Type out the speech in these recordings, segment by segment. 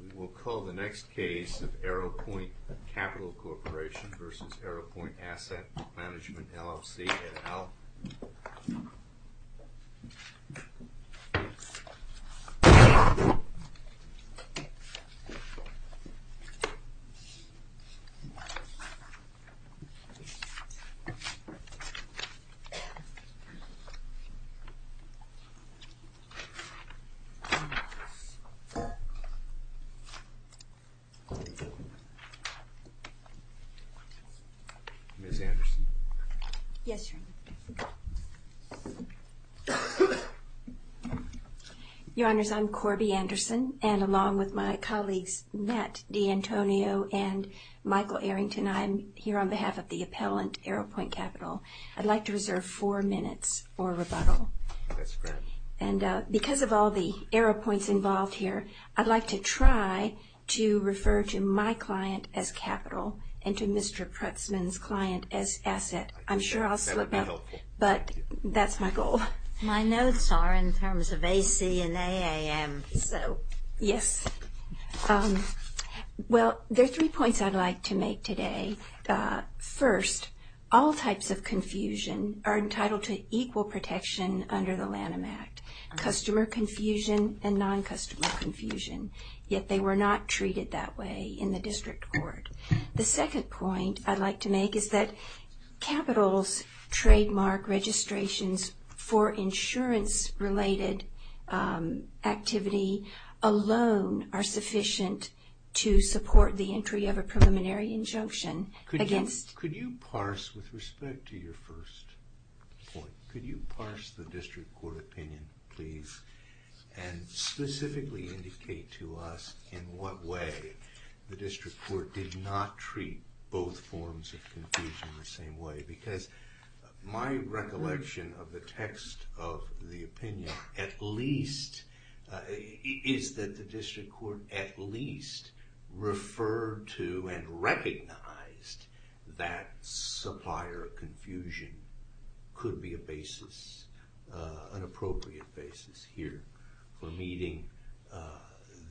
We will call the next case of Arrowpoint Capital Corporation v. Arrowpoint Asset Management, LLC, et al. Ms. Anderson? Yes, Your Honor. Your Honors, I'm Corby Anderson, and along with my colleagues Matt D'Antonio and Michael Arrington, I'm here on behalf of the appellant, Arrowpoint Capital. I'd like to reserve four minutes for rebuttal. That's fair. And because of all the Arrowpoints involved here, I'd like to try to refer to my client as capital and to Mr. Prutzman's client as asset. I'm sure I'll slip up. That would be helpful. But that's my goal. My notes are in terms of AC and AAM. So, yes. Well, there are three points I'd like to make today. First, all types of confusion are entitled to equal protection under the Lanham Act, customer confusion and non-customer confusion. Yet they were not treated that way in the district court. The second point I'd like to make is that capital's trademark registrations for insurance-related activity alone are sufficient to support the entry of a preliminary injunction against... both forms of confusion the same way. Because my recollection of the text of the opinion at least is that the district court at least referred to and recognized that supplier confusion could be a basis, an appropriate basis here for meeting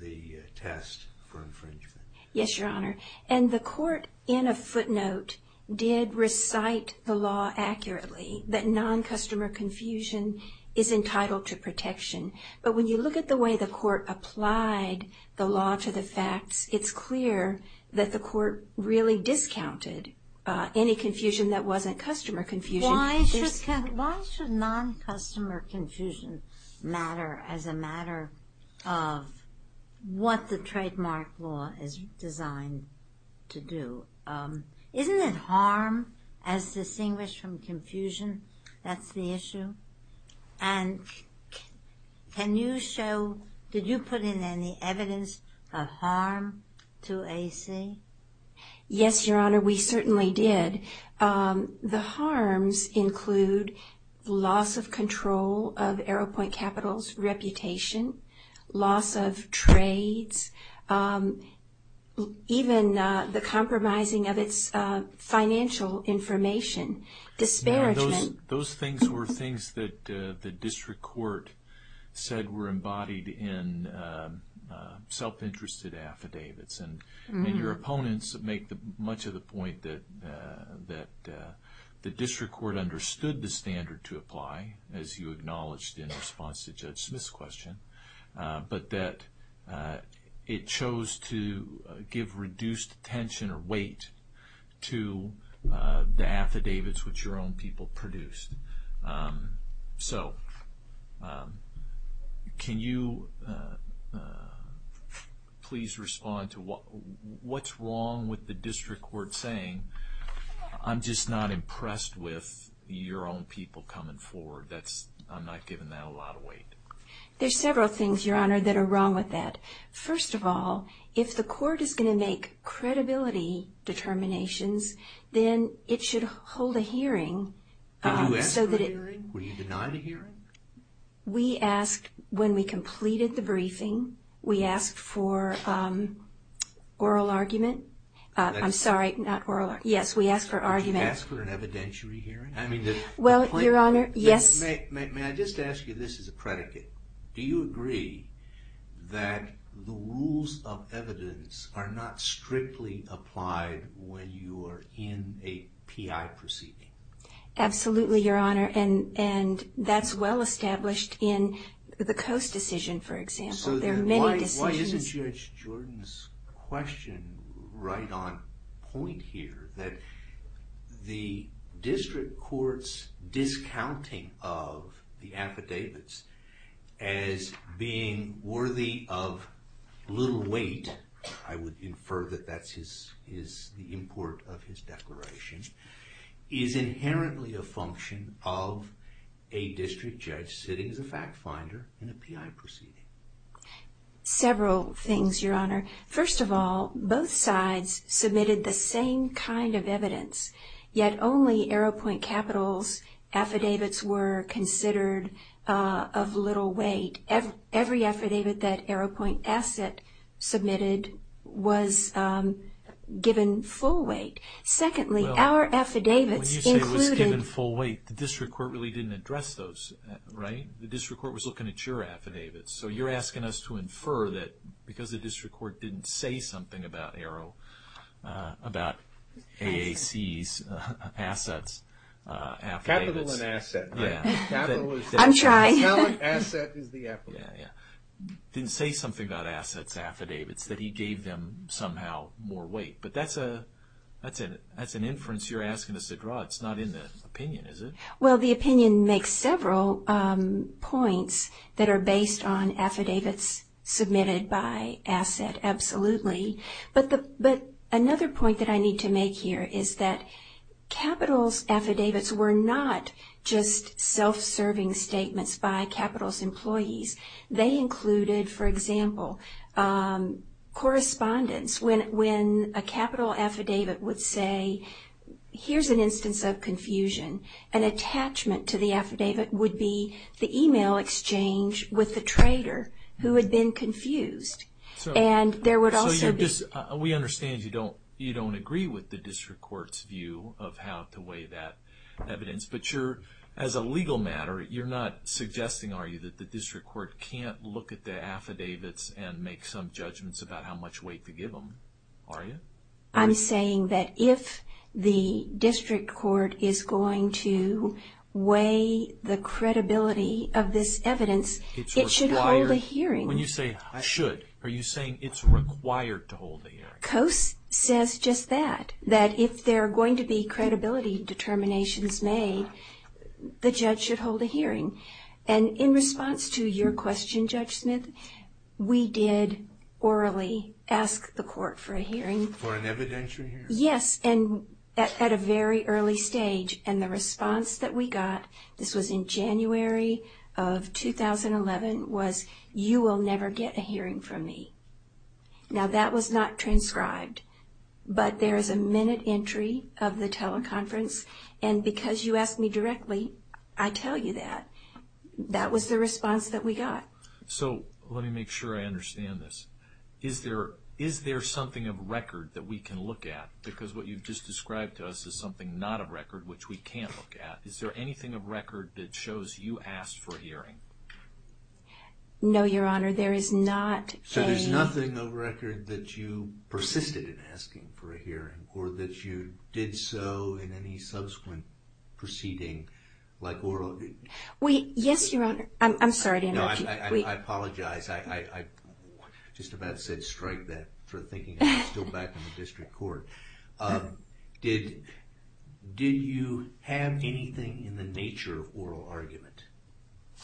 the test for infringement. Yes, Your Honor. And the court in a footnote did recite the law accurately that non-customer confusion is entitled to protection. But when you look at the way the court applied the law to the facts, it's clear that the court really discounted any confusion that wasn't customer confusion. Why should non-customer confusion matter as a matter of what the trademark law is designed to do? Isn't it harm as distinguished from confusion that's the issue? And can you show, did you put in any evidence of harm to AC? Yes, Your Honor, we certainly did. The harms include loss of control of AeroPoint Capital's reputation, loss of trades, even the compromising of its financial information, disparagement. Those things were things that the district court said were embodied in self-interested affidavits. And your opponents make much of the point that the district court understood the standard to apply as you acknowledged in response to Judge Smith's question. But that it chose to give reduced attention or weight to the affidavits which your own people produced. So, can you please respond to what's wrong with the district court saying, I'm just not impressed with your own people coming forward. I'm not giving that a lot of weight. There's several things, Your Honor, that are wrong with that. First of all, if the court is going to make credibility determinations, then it should hold a hearing. Did you ask for a hearing? Were you denied a hearing? We asked when we completed the briefing. We asked for oral argument. I'm sorry, not oral argument. Yes, we asked for argument. Did you ask for an evidentiary hearing? Well, Your Honor, yes. May I just ask you this as a predicate? Do you agree that the rules of evidence are not strictly applied when you are in a PI proceeding? Absolutely, Your Honor. And that's well established in the Coase decision, for example. Why isn't Judge Jordan's question right on point here? That the district court's discounting of the affidavits as being worthy of little weight, I would infer that that's the import of his declaration, is inherently a function of a district judge sitting as a fact finder in a PI proceeding. Several things, Your Honor. First of all, both sides submitted the same kind of evidence, yet only Arrowpoint Capital's affidavits were considered of little weight. Every affidavit that Arrowpoint Asset submitted was given full weight. Secondly, our affidavits included... When you say it was given full weight, the district court really didn't address those, right? The district court was looking at your affidavits. So you're asking us to infer that because the district court didn't say something about Arrow, about AAC's assets, affidavits... Capital and asset, right? I'm trying. Didn't say something about assets, affidavits, that he gave them somehow more weight. But that's an inference you're asking us to draw. It's not in the opinion, is it? Well, the opinion makes several points that are based on affidavits submitted by asset, absolutely. But another point that I need to make here is that Capital's affidavits were not just self-serving statements by Capital's employees. They included, for example, correspondence. When a Capital affidavit would say, here's an instance of confusion, an attachment to the affidavit would be the email exchange with the trader who had been confused. We understand you don't agree with the district court's view of how to weigh that evidence, but as a legal matter, you're not suggesting, are you, that the district court can't look at the affidavits and make some judgments about how much weight to give them, are you? I'm saying that if the district court is going to weigh the credibility of this evidence, it should hold a hearing. When you say should, are you saying it's required to hold a hearing? Coase says just that, that if there are going to be credibility determinations made, the judge should hold a hearing. And in response to your question, Judge Smith, we did orally ask the court for a hearing. For an evidentiary hearing? Yes, and at a very early stage. And the response that we got, this was in January of 2011, was you will never get a hearing from me. Now, that was not transcribed, but there is a minute entry of the teleconference, and because you asked me directly, I tell you that. That was the response that we got. So let me make sure I understand this. Is there something of record that we can look at? Because what you've just described to us is something not of record, which we can't look at. Is there anything of record that shows you asked for a hearing? No, Your Honor, there is not. So there's nothing of record that you persisted in asking for a hearing or that you did so in any subsequent proceeding like oral? Yes, Your Honor. I'm sorry to interrupt you. I apologize. I just about said strike that for thinking I'm still back in the district court. Did you have anything in the nature of oral argument,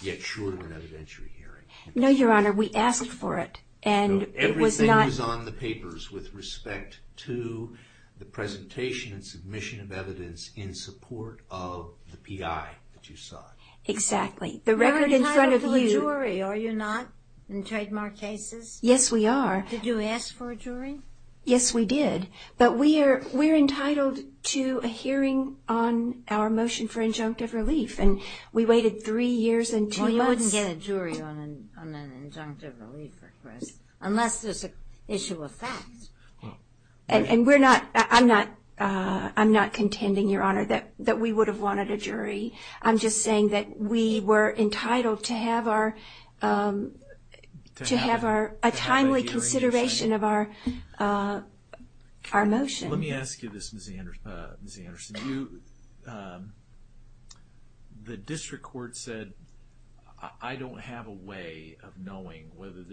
yet short of an evidentiary hearing? No, Your Honor, we asked for it. Everything was on the papers with respect to the presentation and submission of evidence in support of the PI that you sought. Exactly. You're entitled to a jury, are you not, in trademark cases? Yes, we are. Did you ask for a jury? Yes, we did. But we're entitled to a hearing on our motion for injunctive relief. And we waited three years and two months. Well, you wouldn't get a jury on an injunctive relief request unless there's an issue of fact. I'm just saying that we were entitled to have a timely consideration of our motion. Let me ask you this, Ms. Anderson. The district court said I don't have a way of knowing whether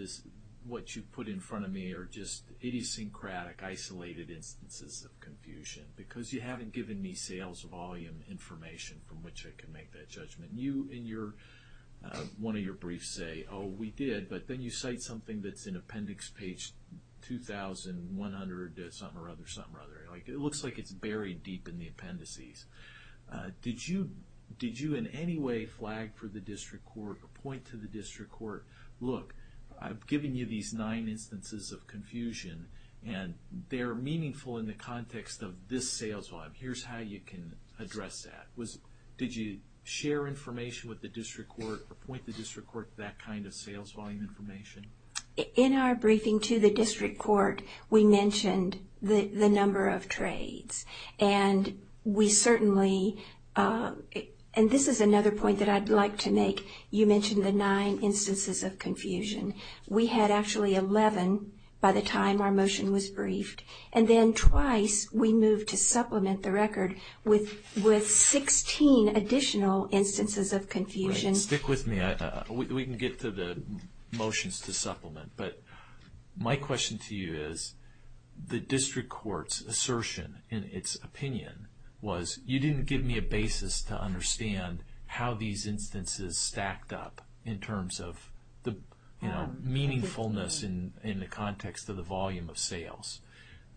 what you put in front of me are just idiosyncratic, isolated instances of confusion because you haven't given me sales volume information from which I can make that judgment. You, in one of your briefs, say, oh, we did. But then you cite something that's in appendix page 2,100-something-or-other-something-or-other. It looks like it's buried deep in the appendices. Did you in any way flag for the district court or point to the district court, look, I've given you these nine instances of confusion, and they're meaningful in the context of this sales volume. Here's how you can address that. Did you share information with the district court or point the district court to that kind of sales volume information? In our briefing to the district court, we mentioned the number of trades. And we certainly, and this is another point that I'd like to make, you mentioned the nine instances of confusion. We had actually 11 by the time our motion was briefed. And then twice we moved to supplement the record with 16 additional instances of confusion. Stick with me. We can get to the motions to supplement. But my question to you is, the district court's assertion in its opinion was, you didn't give me a basis to understand how these instances stacked up in terms of the meaningfulness in the context of the volume of sales.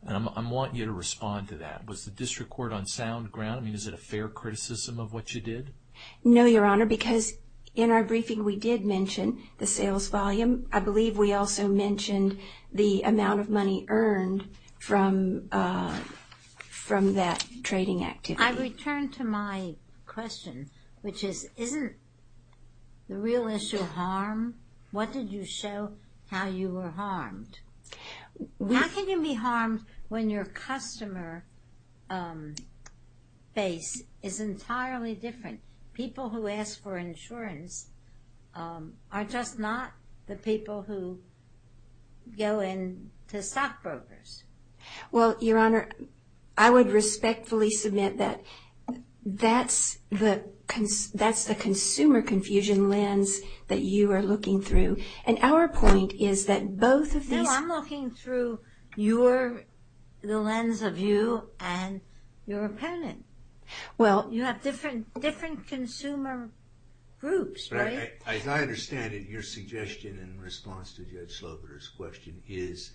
And I want you to respond to that. Was the district court on sound ground? I mean, is it a fair criticism of what you did? No, Your Honor, because in our briefing we did mention the sales volume. I believe we also mentioned the amount of money earned from that trading activity. I return to my question, which is, isn't the real issue harm? What did you show how you were harmed? How can you be harmed when your customer base is entirely different? People who ask for insurance are just not the people who go in to stockbrokers. Well, Your Honor, I would respectfully submit that that's the consumer confusion lens that you are looking through. And our point is that both of these... No, I'm looking through the lens of you and your opponent. Well... You have different consumer groups, right? As I understand it, your suggestion in response to Judge Slover's question is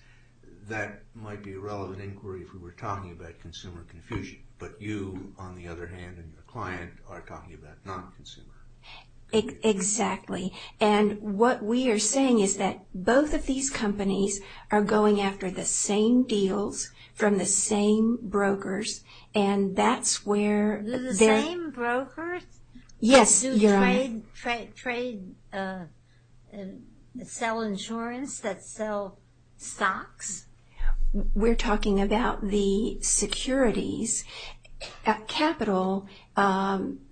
that might be a relevant inquiry if we were talking about consumer confusion. But you, on the other hand, and your client are talking about non-consumer. Exactly. And what we are saying is that both of these companies are going after the same deals from the same brokers, and that's where... The same brokers? Yes, Your Honor. Trade... sell insurance that sell stocks? We're talking about the securities. Capital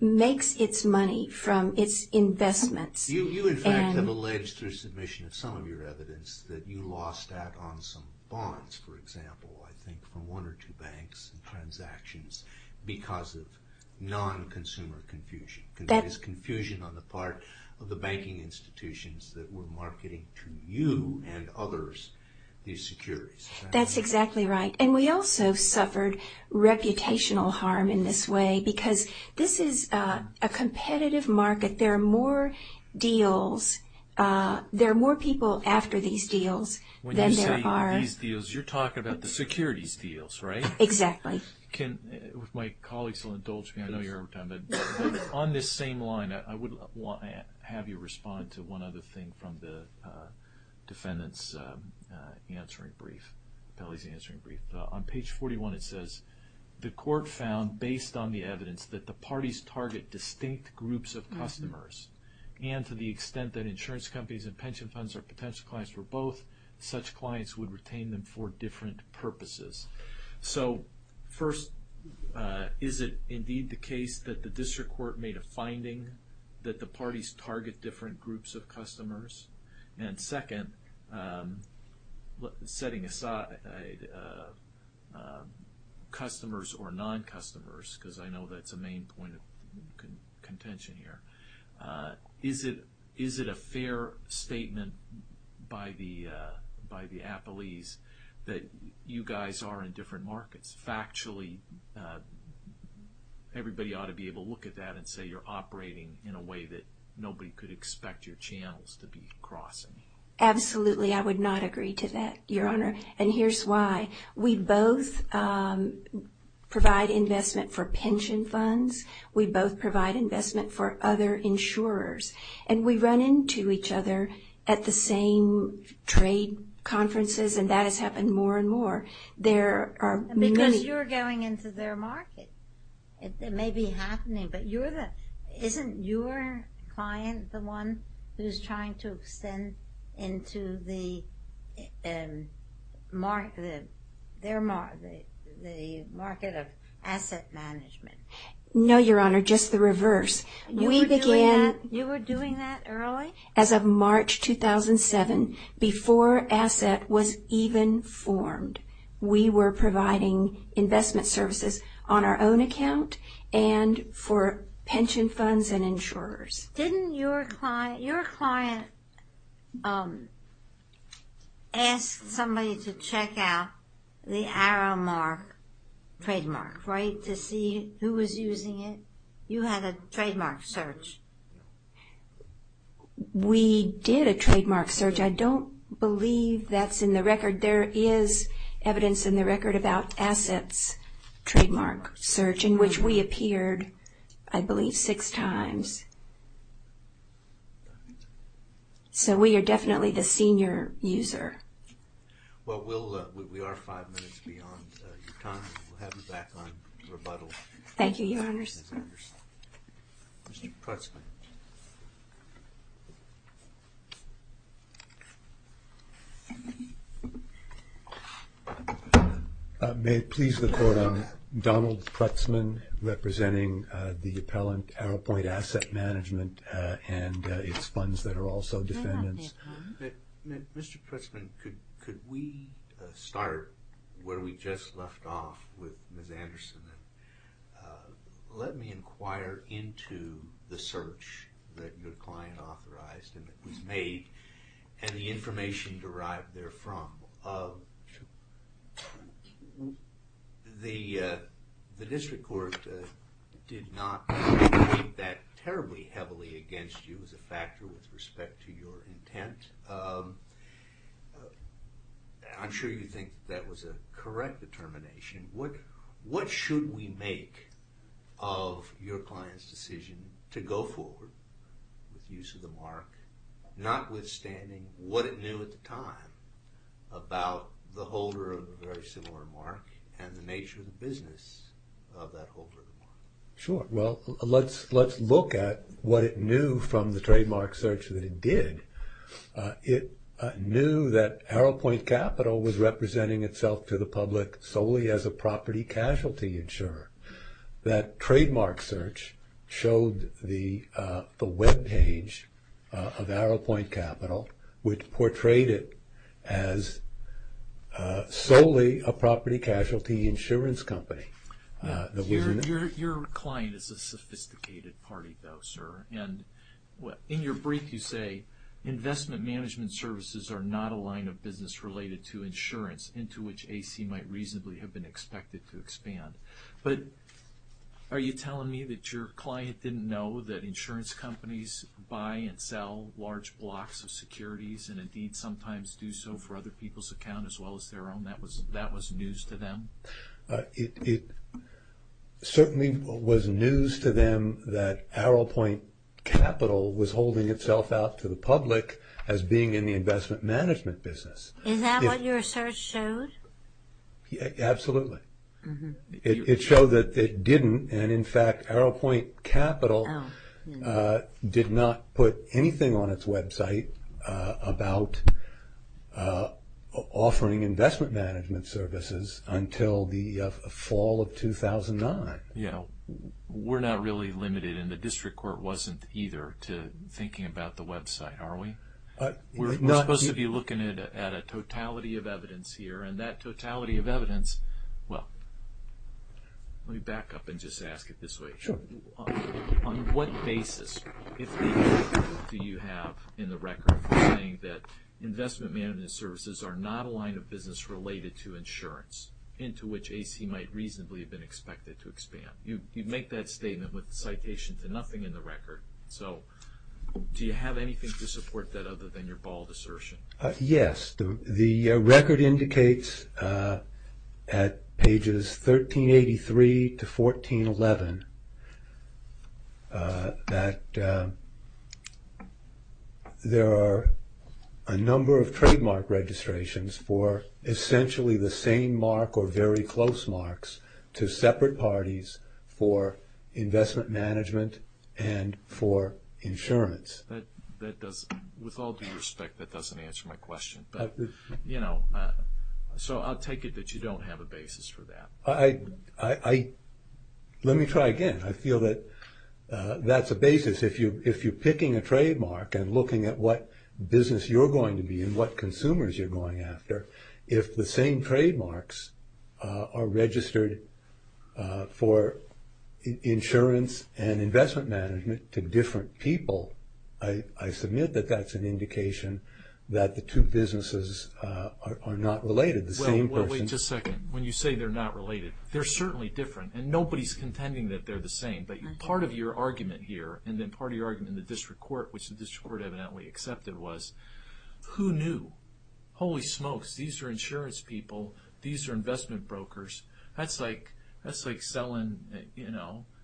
makes its money from its investments. You, in fact, have alleged through submission of some of your evidence that you lost out on some bonds, for example, I think from one or two banks and transactions because of non-consumer confusion. There's confusion on the part of the banking institutions that were marketing to you and others these securities. That's exactly right. And we also suffered reputational harm in this way because this is a competitive market. There are more deals... there are more people after these deals than there are... When you say these deals, you're talking about the securities deals, right? Exactly. If my colleagues will indulge me, I know you're out of time, but on this same line, I would have you respond to one other thing from the defendant's answering brief, Pelley's answering brief. On page 41, it says, the court found, based on the evidence, that the parties target distinct groups of customers, and to the extent that insurance companies and pension funds are potential clients for both, such clients would retain them for different purposes. So first, is it indeed the case that the district court made a finding that the parties target different groups of customers? And second, setting aside customers or non-customers, because I know that's a main point of contention here, is it a fair statement by the appellees that you guys are in different markets? Factually, everybody ought to be able to look at that and say you're operating in a way that nobody could expect your channels to be crossing. Absolutely, I would not agree to that, Your Honor. And here's why. We both provide investment for pension funds. We both provide investment for other insurers. And we run into each other at the same trade conferences, and that has happened more and more. Because you're going into their market. It may be happening, but isn't your client the one who's trying to extend into the market of asset management? No, Your Honor, just the reverse. You were doing that early? As of March 2007, before asset was even formed, we were providing investment services on our own account and for pension funds and insurers. Didn't your client ask somebody to check out the Aramark trademark, right, to see who was using it? You had a trademark search. We did a trademark search. I don't believe that's in the record. There is evidence in the record about assets trademark search in which we appeared, I believe, six times. So we are definitely the senior user. Well, we are five minutes beyond your time. We'll have you back on rebuttal. Thank you, Your Honors. Mr. Putzman. May it please the Court, I'm Donald Putzman, representing the appellant, Arrowpoint Asset Management, and its funds that are also defendants. Mr. Putzman, could we start where we just left off with Ms. Anderson? Let me inquire into the search that your client authorized and that was made and the information derived therefrom. Well, the district court did not weigh that terribly heavily against you as a factor with respect to your intent. I'm sure you think that was a correct determination. What should we make of your client's decision to go forward with use of the mark, notwithstanding what it knew at the time about the holder of a very similar mark and the nature of the business of that holder of the mark? Sure. Well, let's look at what it knew from the trademark search that it did. It knew that Arrowpoint Capital was representing itself to the public solely as a property casualty insurer. That trademark search showed the webpage of Arrowpoint Capital, which portrayed it as solely a property casualty insurance company. Your client is a sophisticated party, though, sir, and in your brief you say investment management services are not a line of business related to insurance, into which AC might reasonably have been expected to expand. But are you telling me that your client didn't know that insurance companies buy and sell large blocks of securities and indeed sometimes do so for other people's account as well as their own? That was news to them? It certainly was news to them that Arrowpoint Capital was holding itself out to the public as being in the investment management business. Is that what your search showed? Absolutely. It showed that it didn't, and in fact Arrowpoint Capital did not put anything on its website about offering investment management services until the fall of 2009. We're not really limited, and the district court wasn't either, to thinking about the website, are we? We're supposed to be looking at a totality of evidence here, and that totality of evidence, well, let me back up and just ask it this way. Sure. On what basis, if any, do you have in the record for saying that investment management services are not a line of business related to insurance, into which AC might reasonably have been expected to expand? You make that statement with citation to nothing in the record, so do you have anything to support that other than your bald assertion? Yes. The record indicates at pages 1383 to 1411 that there are a number of trademark registrations for essentially the same mark or very close marks to separate parties for investment management and for insurance. With all due respect, that doesn't answer my question. So I'll take it that you don't have a basis for that. Let me try again. I feel that that's a basis. If you're picking a trademark and looking at what business you're going to be in, what consumers you're going after, if the same trademarks are registered for insurance and investment management to different people, I submit that that's an indication that the two businesses are not related, the same person. Well, wait just a second. When you say they're not related, they're certainly different, and nobody's contending that they're the same, but part of your argument here and then part of your argument in the district court, which the district court evidently accepted, was who knew? Holy smokes. These are insurance people. These are investment brokers. That's like selling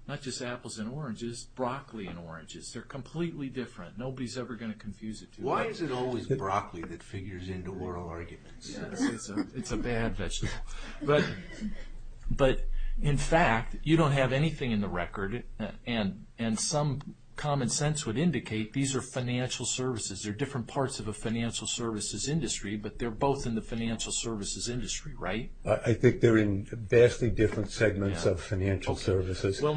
not just apples and oranges, broccoli and oranges. They're completely different. Nobody's ever going to confuse it. Why is it always broccoli that figures into oral arguments? It's a bad vegetable. But in fact, you don't have anything in the record, and some common sense would indicate these are financial services. They're different parts of a financial services industry, but they're both in the financial services industry, right? I think they're in vastly different segments of financial services. Don't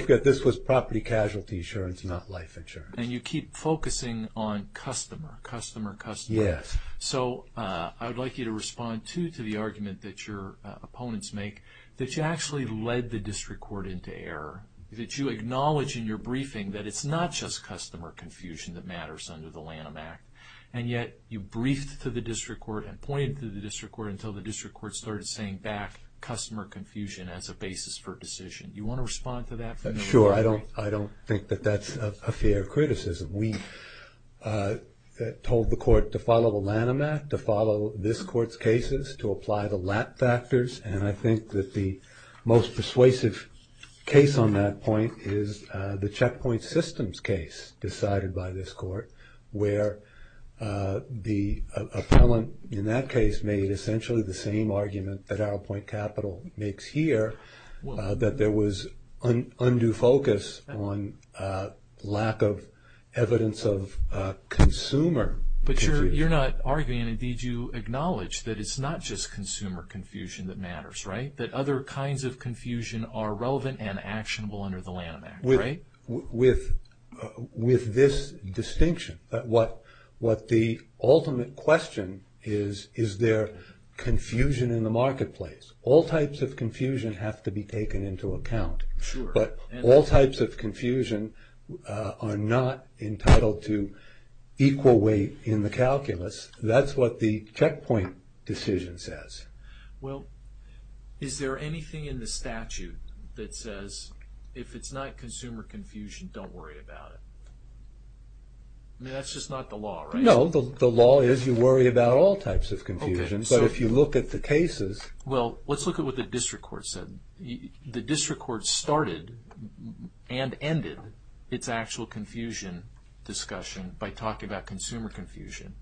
forget, this was property casualty insurance, not life insurance. And you keep focusing on customer, customer, customer. Yes. So I would like you to respond, too, to the argument that your opponents make, that you actually led the district court into error, that you acknowledge in your briefing that it's not just customer confusion that matters under the Lanham Act, and yet you briefed to the district court and pointed to the district court until the district court started saying back customer confusion as a basis for decision. Do you want to respond to that? Sure. I don't think that that's a fair criticism. We told the court to follow the Lanham Act, to follow this court's cases, to apply the LAT factors, and I think that the most persuasive case on that point is the Checkpoint Systems case decided by this court where the appellant in that case made essentially the same argument that Arrowpoint Capital makes here, that there was undue focus on lack of evidence of consumer confusion. But you're not arguing, and indeed you acknowledge, that it's not just consumer confusion that matters, right? That other kinds of confusion are relevant and actionable under the Lanham Act, right? With this distinction, what the ultimate question is, is there confusion in the marketplace? All types of confusion have to be taken into account. Sure. But all types of confusion are not entitled to equal weight in the calculus. That's what the Checkpoint decision says. Well, is there anything in the statute that says, if it's not consumer confusion, don't worry about it? I mean, that's just not the law, right? No, the law is you worry about all types of confusion. But if you look at the cases… Well, let's look at what the district court said. The district court started and ended its actual confusion discussion by talking about consumer confusion,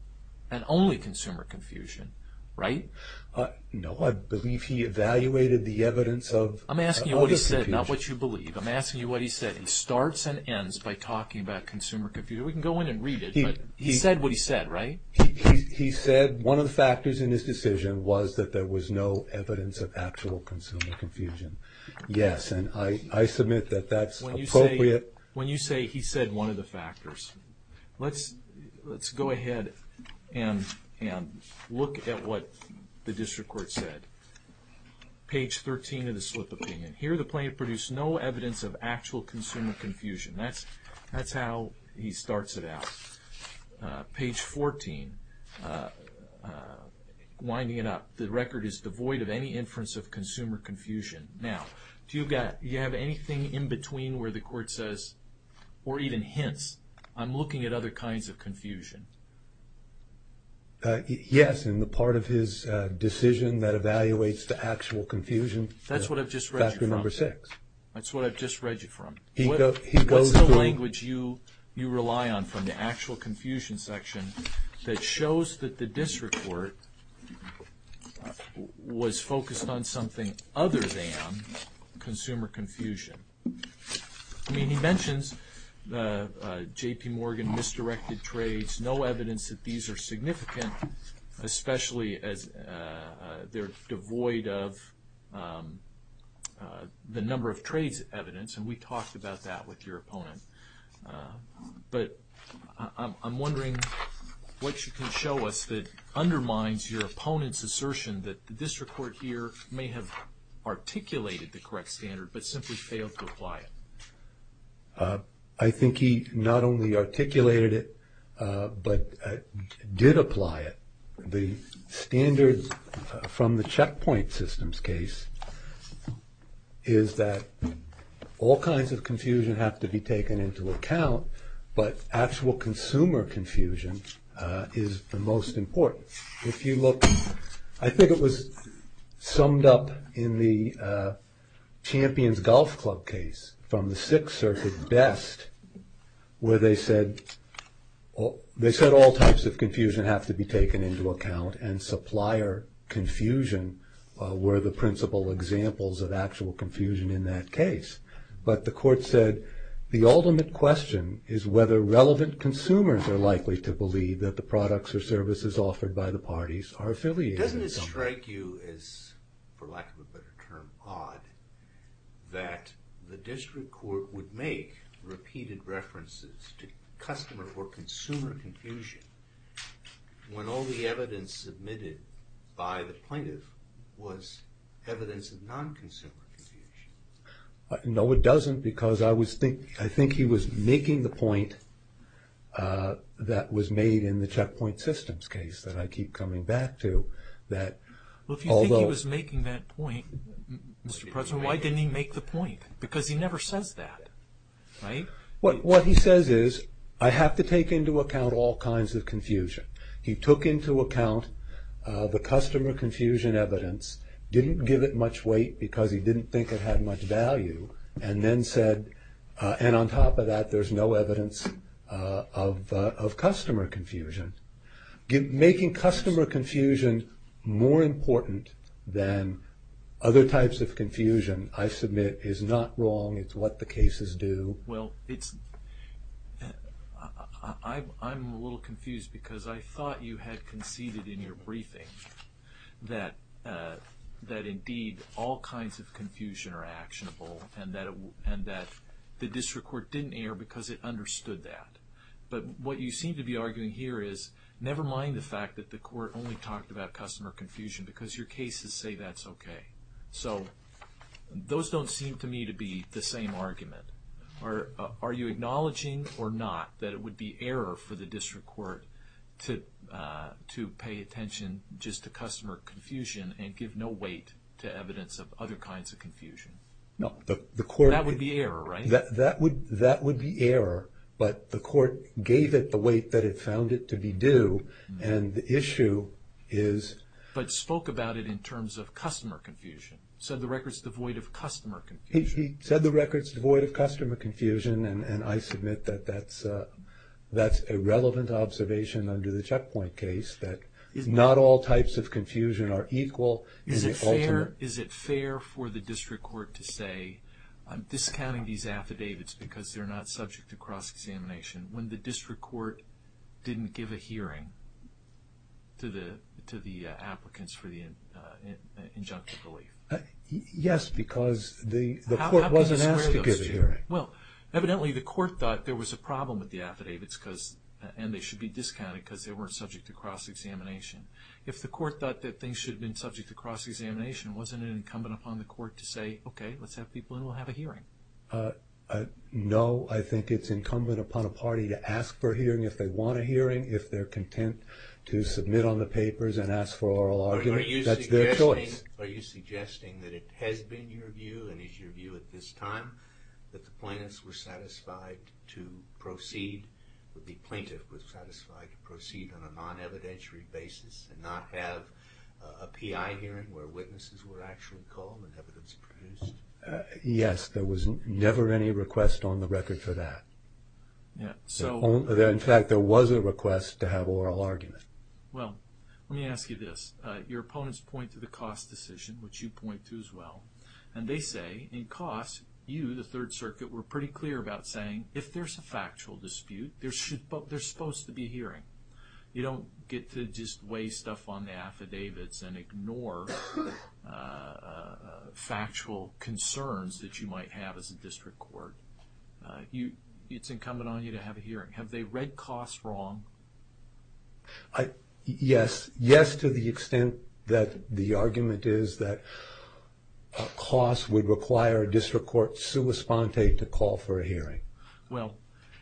and only consumer confusion, right? No, I believe he evaluated the evidence of other confusion. I'm asking you what he said, not what you believe. I'm asking you what he said. He starts and ends by talking about consumer confusion. We can go in and read it, but he said what he said, right? He said one of the factors in his decision was that there was no evidence of actual consumer confusion. Yes, and I submit that that's appropriate. When you say he said one of the factors, let's go ahead and look at what the district court said. Page 13 of the slip opinion. Here the plaintiff produced no evidence of actual consumer confusion. That's how he starts it out. Page 14, winding it up, the record is devoid of any inference of consumer confusion. Now, do you have anything in between where the court says, or even hints, I'm looking at other kinds of confusion? Yes, in the part of his decision that evaluates the actual confusion. That's what I've just read you from. Factor number six. That's what I've just read you from. What's the language you rely on from the actual confusion section that shows that the district court was focused on something other than consumer confusion? I mean, he mentions J.P. Morgan misdirected trades, no evidence that these are significant, especially as they're devoid of the number of trades evidence, and we talked about that with your opponent. But I'm wondering what you can show us that undermines your opponent's assertion that the district court here may have articulated the correct standard but simply failed to apply it. I think he not only articulated it but did apply it. The standard from the checkpoint systems case is that all kinds of confusion have to be taken into account, but actual consumer confusion is the most important. If you look, I think it was summed up in the Champions Golf Club case from the Sixth Circuit best, where they said all types of confusion have to be taken into account and supplier confusion were the principal examples of actual confusion in that case. But the court said the ultimate question is whether relevant consumers are likely to believe that the products or services offered by the parties are affiliated. Doesn't it strike you as, for lack of a better term, odd that the district court would make repeated references to customer or consumer confusion when all the evidence submitted by the plaintiff was evidence of non-consumer confusion? No, it doesn't, because I think he was making the point that was made in the checkpoint systems case that I keep coming back to. If you think he was making that point, Mr. President, why didn't he make the point? Because he never says that, right? What he says is, I have to take into account all kinds of confusion. He took into account the customer confusion evidence, didn't give it much weight because he didn't think it had much value, and then said, and on top of that, there's no evidence of customer confusion. Making customer confusion more important than other types of confusion, I submit, is not wrong. It's what the cases do. Well, I'm a little confused because I thought you had conceded in your briefing that indeed all kinds of confusion are actionable and that the district court didn't err because it understood that. But what you seem to be arguing here is, never mind the fact that the court only talked about customer confusion because your cases say that's okay. So those don't seem to me to be the same argument. Are you acknowledging or not that it would be error for the district court to pay attention just to customer confusion and give no weight to evidence of other kinds of confusion? No. That would be error, right? That would be error, but the court gave it the weight that it found it to be due, and the issue is... But spoke about it in terms of customer confusion. Said the record's devoid of customer confusion. He said the record's devoid of customer confusion, and I submit that that's a relevant observation under the checkpoint case that not all types of confusion are equal. Is it fair for the district court to say, I'm discounting these affidavits because they're not subject to cross-examination, when the district court didn't give a hearing to the applicants for the injunctive relief? Yes, because the court wasn't asked to give a hearing. Well, evidently the court thought there was a problem with the affidavits and they should be discounted because they weren't subject to cross-examination. If the court thought that things should have been subject to cross-examination, wasn't it incumbent upon the court to say, okay, let's have people in and we'll have a hearing? No, I think it's incumbent upon a party to ask for a hearing if they want a hearing, if they're content to submit on the papers and ask for oral argument. That's their choice. Are you suggesting that it has been your view and is your view at this time that the plaintiff was satisfied to proceed on a non-evidentiary basis and not have a PI hearing where witnesses were actually called and evidence produced? Yes, there was never any request on the record for that. In fact, there was a request to have oral argument. Well, let me ask you this. Your opponents point to the Coss decision, which you point to as well, and they say in Coss you, the Third Circuit, were pretty clear about saying if there's a factual dispute, there's supposed to be a hearing. You don't get to just weigh stuff on the affidavits and ignore factual concerns that you might have as a district court. It's incumbent on you to have a hearing. Have they read Coss wrong? Yes, to the extent that the argument is that Coss would require a district court sua sponte to call for a hearing. Well,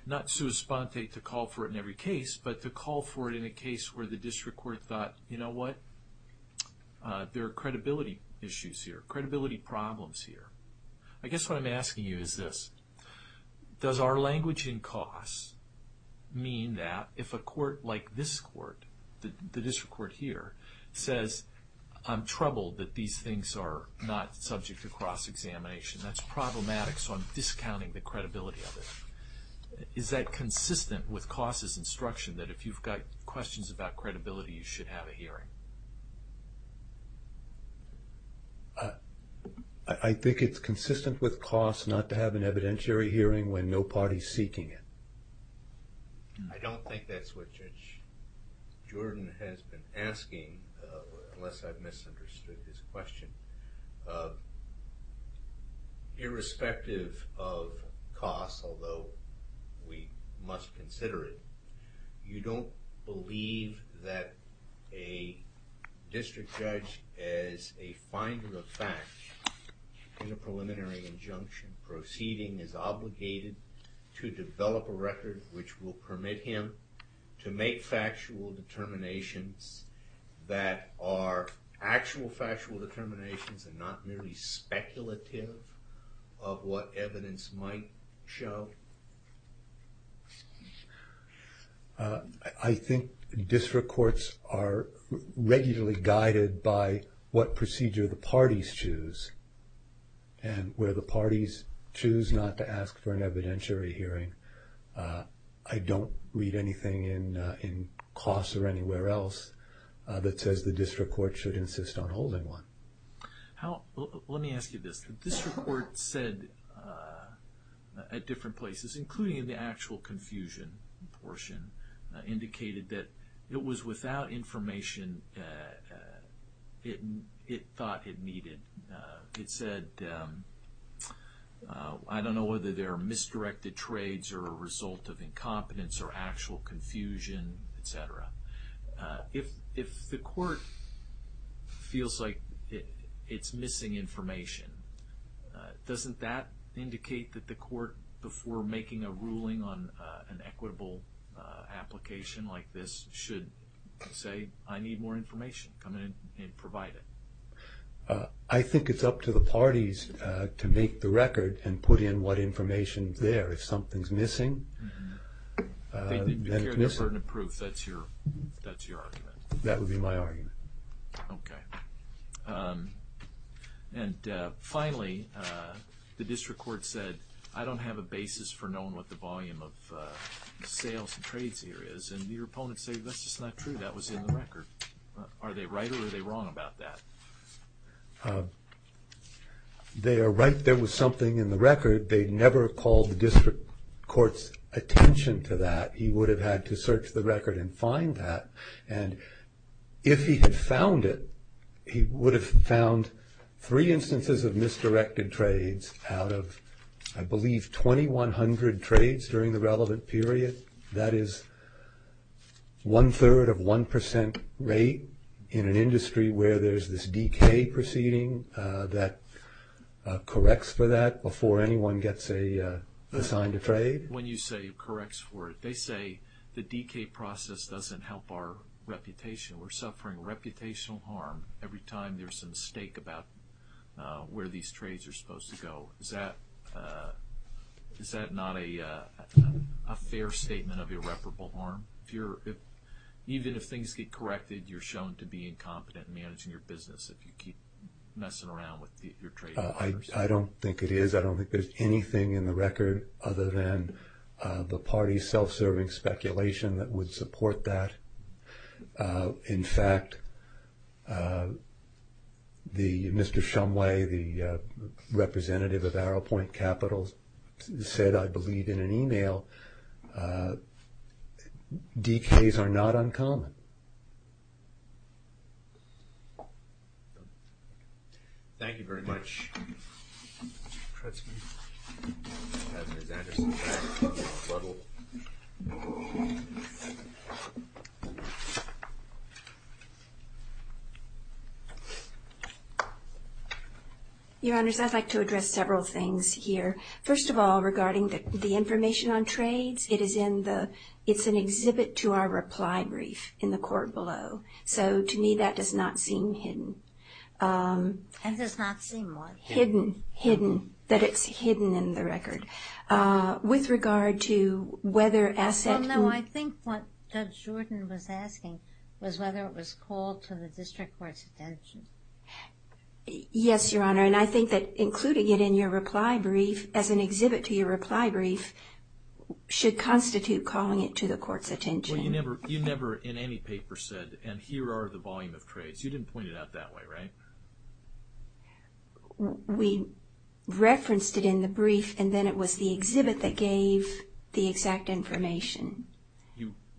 not sua sponte to call for it in every case, but to call for it in a case where the district court thought, you know what, there are credibility issues here, credibility problems here. I guess what I'm asking you is this. Does our language in Coss mean that if a court like this court, the district court here, says, I'm troubled that these things are not subject to cross-examination, that's problematic, so I'm discounting the credibility of it. Is that consistent with Coss' instruction that if you've got questions about credibility, you should have a hearing? I think it's consistent with Coss not to have an evidentiary hearing when no party is seeking it. I don't think that's what Jordan has been asking, unless I've misunderstood his question. Irrespective of Coss, although we must consider it, you don't believe that a district judge is a finder of fact in a preliminary injunction. Proceeding is obligated to develop a record which will permit him to make factual determinations that are actual factual determinations and not merely speculative of what evidence might show. I think district courts are regularly guided by what procedure the parties choose. And where the parties choose not to ask for an evidentiary hearing, I don't read anything in Coss or anywhere else that says the district court should insist on holding one. Let me ask you this. The district court said at different places, including in the actual confusion portion, indicated that it was without information it thought it needed. It said, I don't know whether there are misdirected trades or a result of incompetence or actual confusion, et cetera. If the court feels like it's missing information, doesn't that indicate that the court, before making a ruling on an equitable application like this, should say, I need more information, come in and provide it? I think it's up to the parties to make the record and put in what information's there. If something's missing, then it's missing. They'd be cared for and approved. That's your argument. That would be my argument. Okay. And finally, the district court said, I don't have a basis for knowing what the volume of sales and trades here is. And your opponents say, that's just not true. That was in the record. Are they right or are they wrong about that? They are right. There was something in the record. They never called the district court's attention to that. He would have had to search the record and find that. And if he had found it, he would have found three instances of misdirected trades out of, I believe, 2,100 trades during the relevant period. That is one-third of 1% rate in an industry where there's this DK proceeding that corrects for that before anyone gets assigned a trade. When you say corrects for it, they say the DK process doesn't help our reputation. We're suffering reputational harm every time there's a mistake about where these trades are supposed to go. Is that not a fair statement of irreparable harm? Even if things get corrected, you're shown to be incompetent in managing your business if you keep messing around with your trades. I don't think it is. I don't think there's anything in the record other than the party's self-serving speculation that would support that. In fact, Mr. Shumway, the representative of Arrowpoint Capitals, said, I believe, in an email, DKs are not uncommon. Thank you very much. Your Honors, I'd like to address several things here. First of all, regarding the information on trades, it's an exhibit to our reply brief in the court below. To me, that does not seem hidden. It does not seem what? Hidden. Hidden. That it's hidden in the record. With regard to whether assets... No, I think what Judge Jordan was asking was whether it was called to the district court's attention. Yes, Your Honor. And I think that including it in your reply brief, as an exhibit to your reply brief, should constitute calling it to the court's attention. Well, you never, in any paper, said, and here are the volume of trades. You didn't point it out that way, right? We referenced it in the brief, and then it was the exhibit that gave the exact information.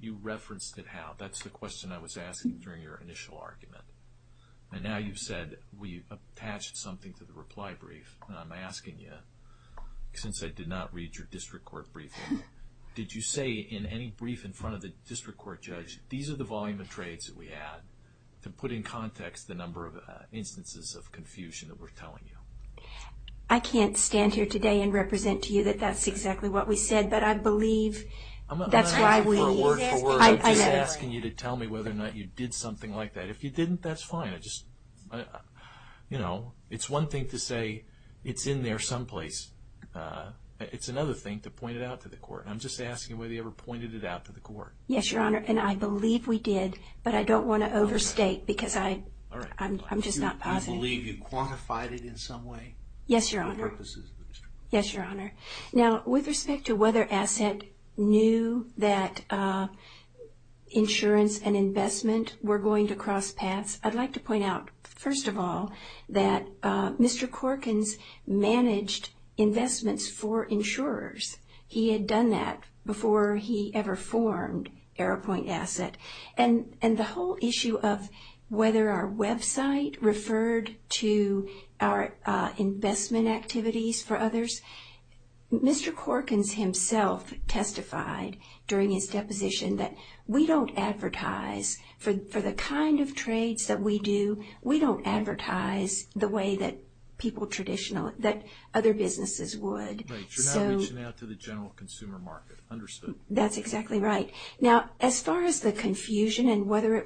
You referenced it how? That's the question I was asking during your initial argument. And now you've said we've attached something to the reply brief, and I'm asking you, since I did not read your district court briefing, did you say in any brief in front of the district court judge, these are the volume of trades that we had, to put in context the number of instances of confusion that we're telling you? I can't stand here today and represent to you that that's exactly what we said, but I believe that's why we... I'm not asking you for a word for word. I'm just asking you to tell me whether or not you did something like that. If you didn't, that's fine. It's one thing to say it's in there someplace. It's another thing to point it out to the court. I'm just asking whether you ever pointed it out to the court. Yes, Your Honor, and I believe we did, but I don't want to overstate because I'm just not positive. Do you believe you quantified it in some way? Yes, Your Honor. For the purposes of the district court. Yes, Your Honor. Now, with respect to whether Asset knew that insurance and investment were going to cross paths, I'd like to point out, first of all, that Mr. Corkins managed investments for insurers. He had done that before he ever formed AeroPoint Asset, and the whole issue of whether our website referred to our investment activities for others, Mr. Corkins himself testified during his deposition that we don't advertise for the kind of trades that we do. We don't advertise the way that people traditionally, that other businesses would. Right. You're not reaching out to the general consumer market. Understood. That's exactly right. Now, as far as the confusion and whether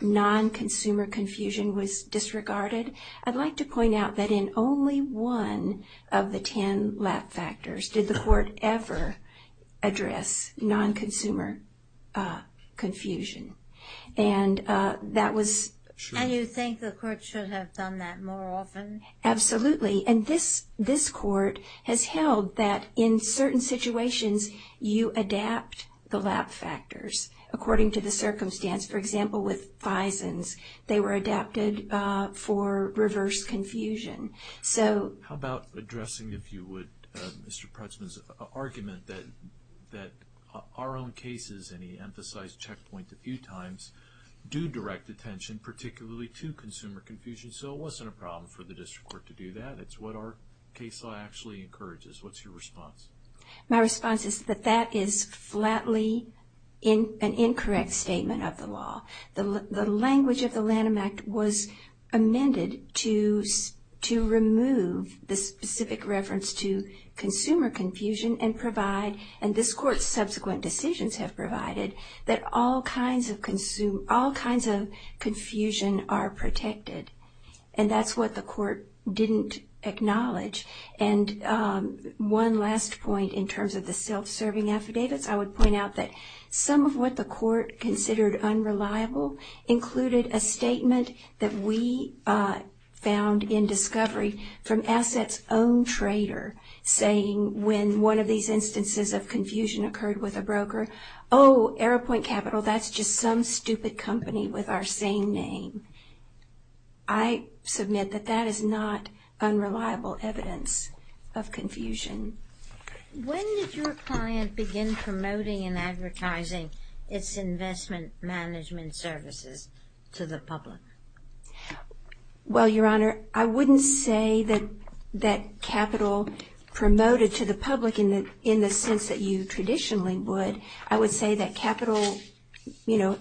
non-consumer confusion was disregarded, I'd like to point out that in only one of the 10 LAP factors did the court ever address non-consumer confusion. And that was... And you think the court should have done that more often? Absolutely. And this court has held that in certain situations you adapt the LAP factors according to the circumstance. For example, with FISNs, they were adapted for reverse confusion. How about addressing, if you would, Mr. Putzman's argument that our own cases, and he emphasized checkpoints a few times, do direct attention, particularly to consumer confusion, so it wasn't a problem for the district court to do that. It's what our case law actually encourages. What's your response? My response is that that is flatly an incorrect statement of the law. The language of the Lanham Act was amended to remove the specific reference to consumer confusion and provide, and this court's subsequent decisions have provided, that all kinds of confusion are protected. And that's what the court didn't acknowledge. And one last point in terms of the self-serving affidavits. I would point out that some of what the court considered unreliable included a statement that we found in discovery from Asset's own trader saying when one of these instances of confusion occurred with a broker, oh, AeroPoint Capital, that's just some stupid company with our same name. I submit that that is not unreliable evidence of confusion. When did your client begin promoting and advertising its investment management services to the public? Well, Your Honor, I wouldn't say that Capital promoted to the public in the sense that you traditionally would. I would say that Capital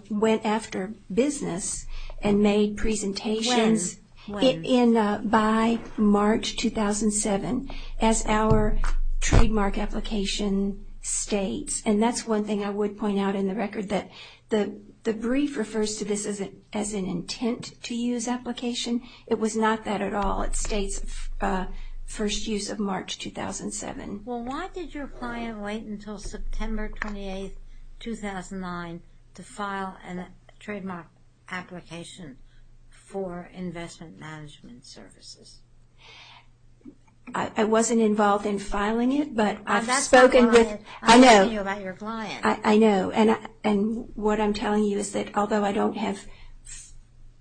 went after business and made presentations by March 2007 as our trademark application states. And that's one thing I would point out in the record, that the brief refers to this as an intent to use application. It was not that at all. It states first use of March 2007. Well, why did your client wait until September 28, 2009 to file a trademark application for investment management services? I wasn't involved in filing it, but I've spoken with – That's not the client. I know. I'm talking about your client. I know. And what I'm telling you is that although I don't have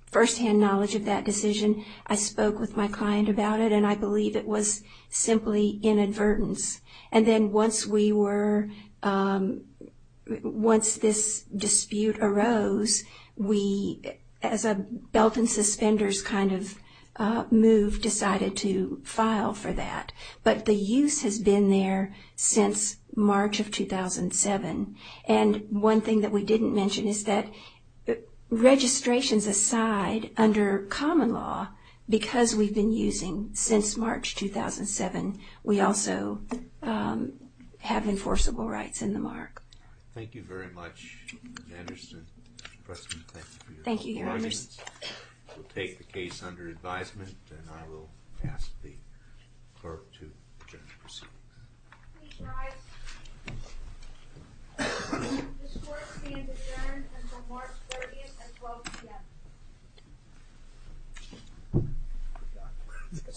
firsthand knowledge of that decision, I spoke with my client about it, and I believe it was simply inadvertence. And then once we were – once this dispute arose, we as a belt and suspenders kind of move decided to file for that. But the use has been there since March of 2007. And one thing that we didn't mention is that registrations aside, under common law, because we've been using since March 2007, we also have enforceable rights in the mark. Thank you very much, Ms. Anderson. President, thank you for your helpful audience. Thank you, Your Honors. We'll take the case under advisement, and I will ask the clerk to proceed. Please rise. This court stands adjourned until March 30th at 12 p.m.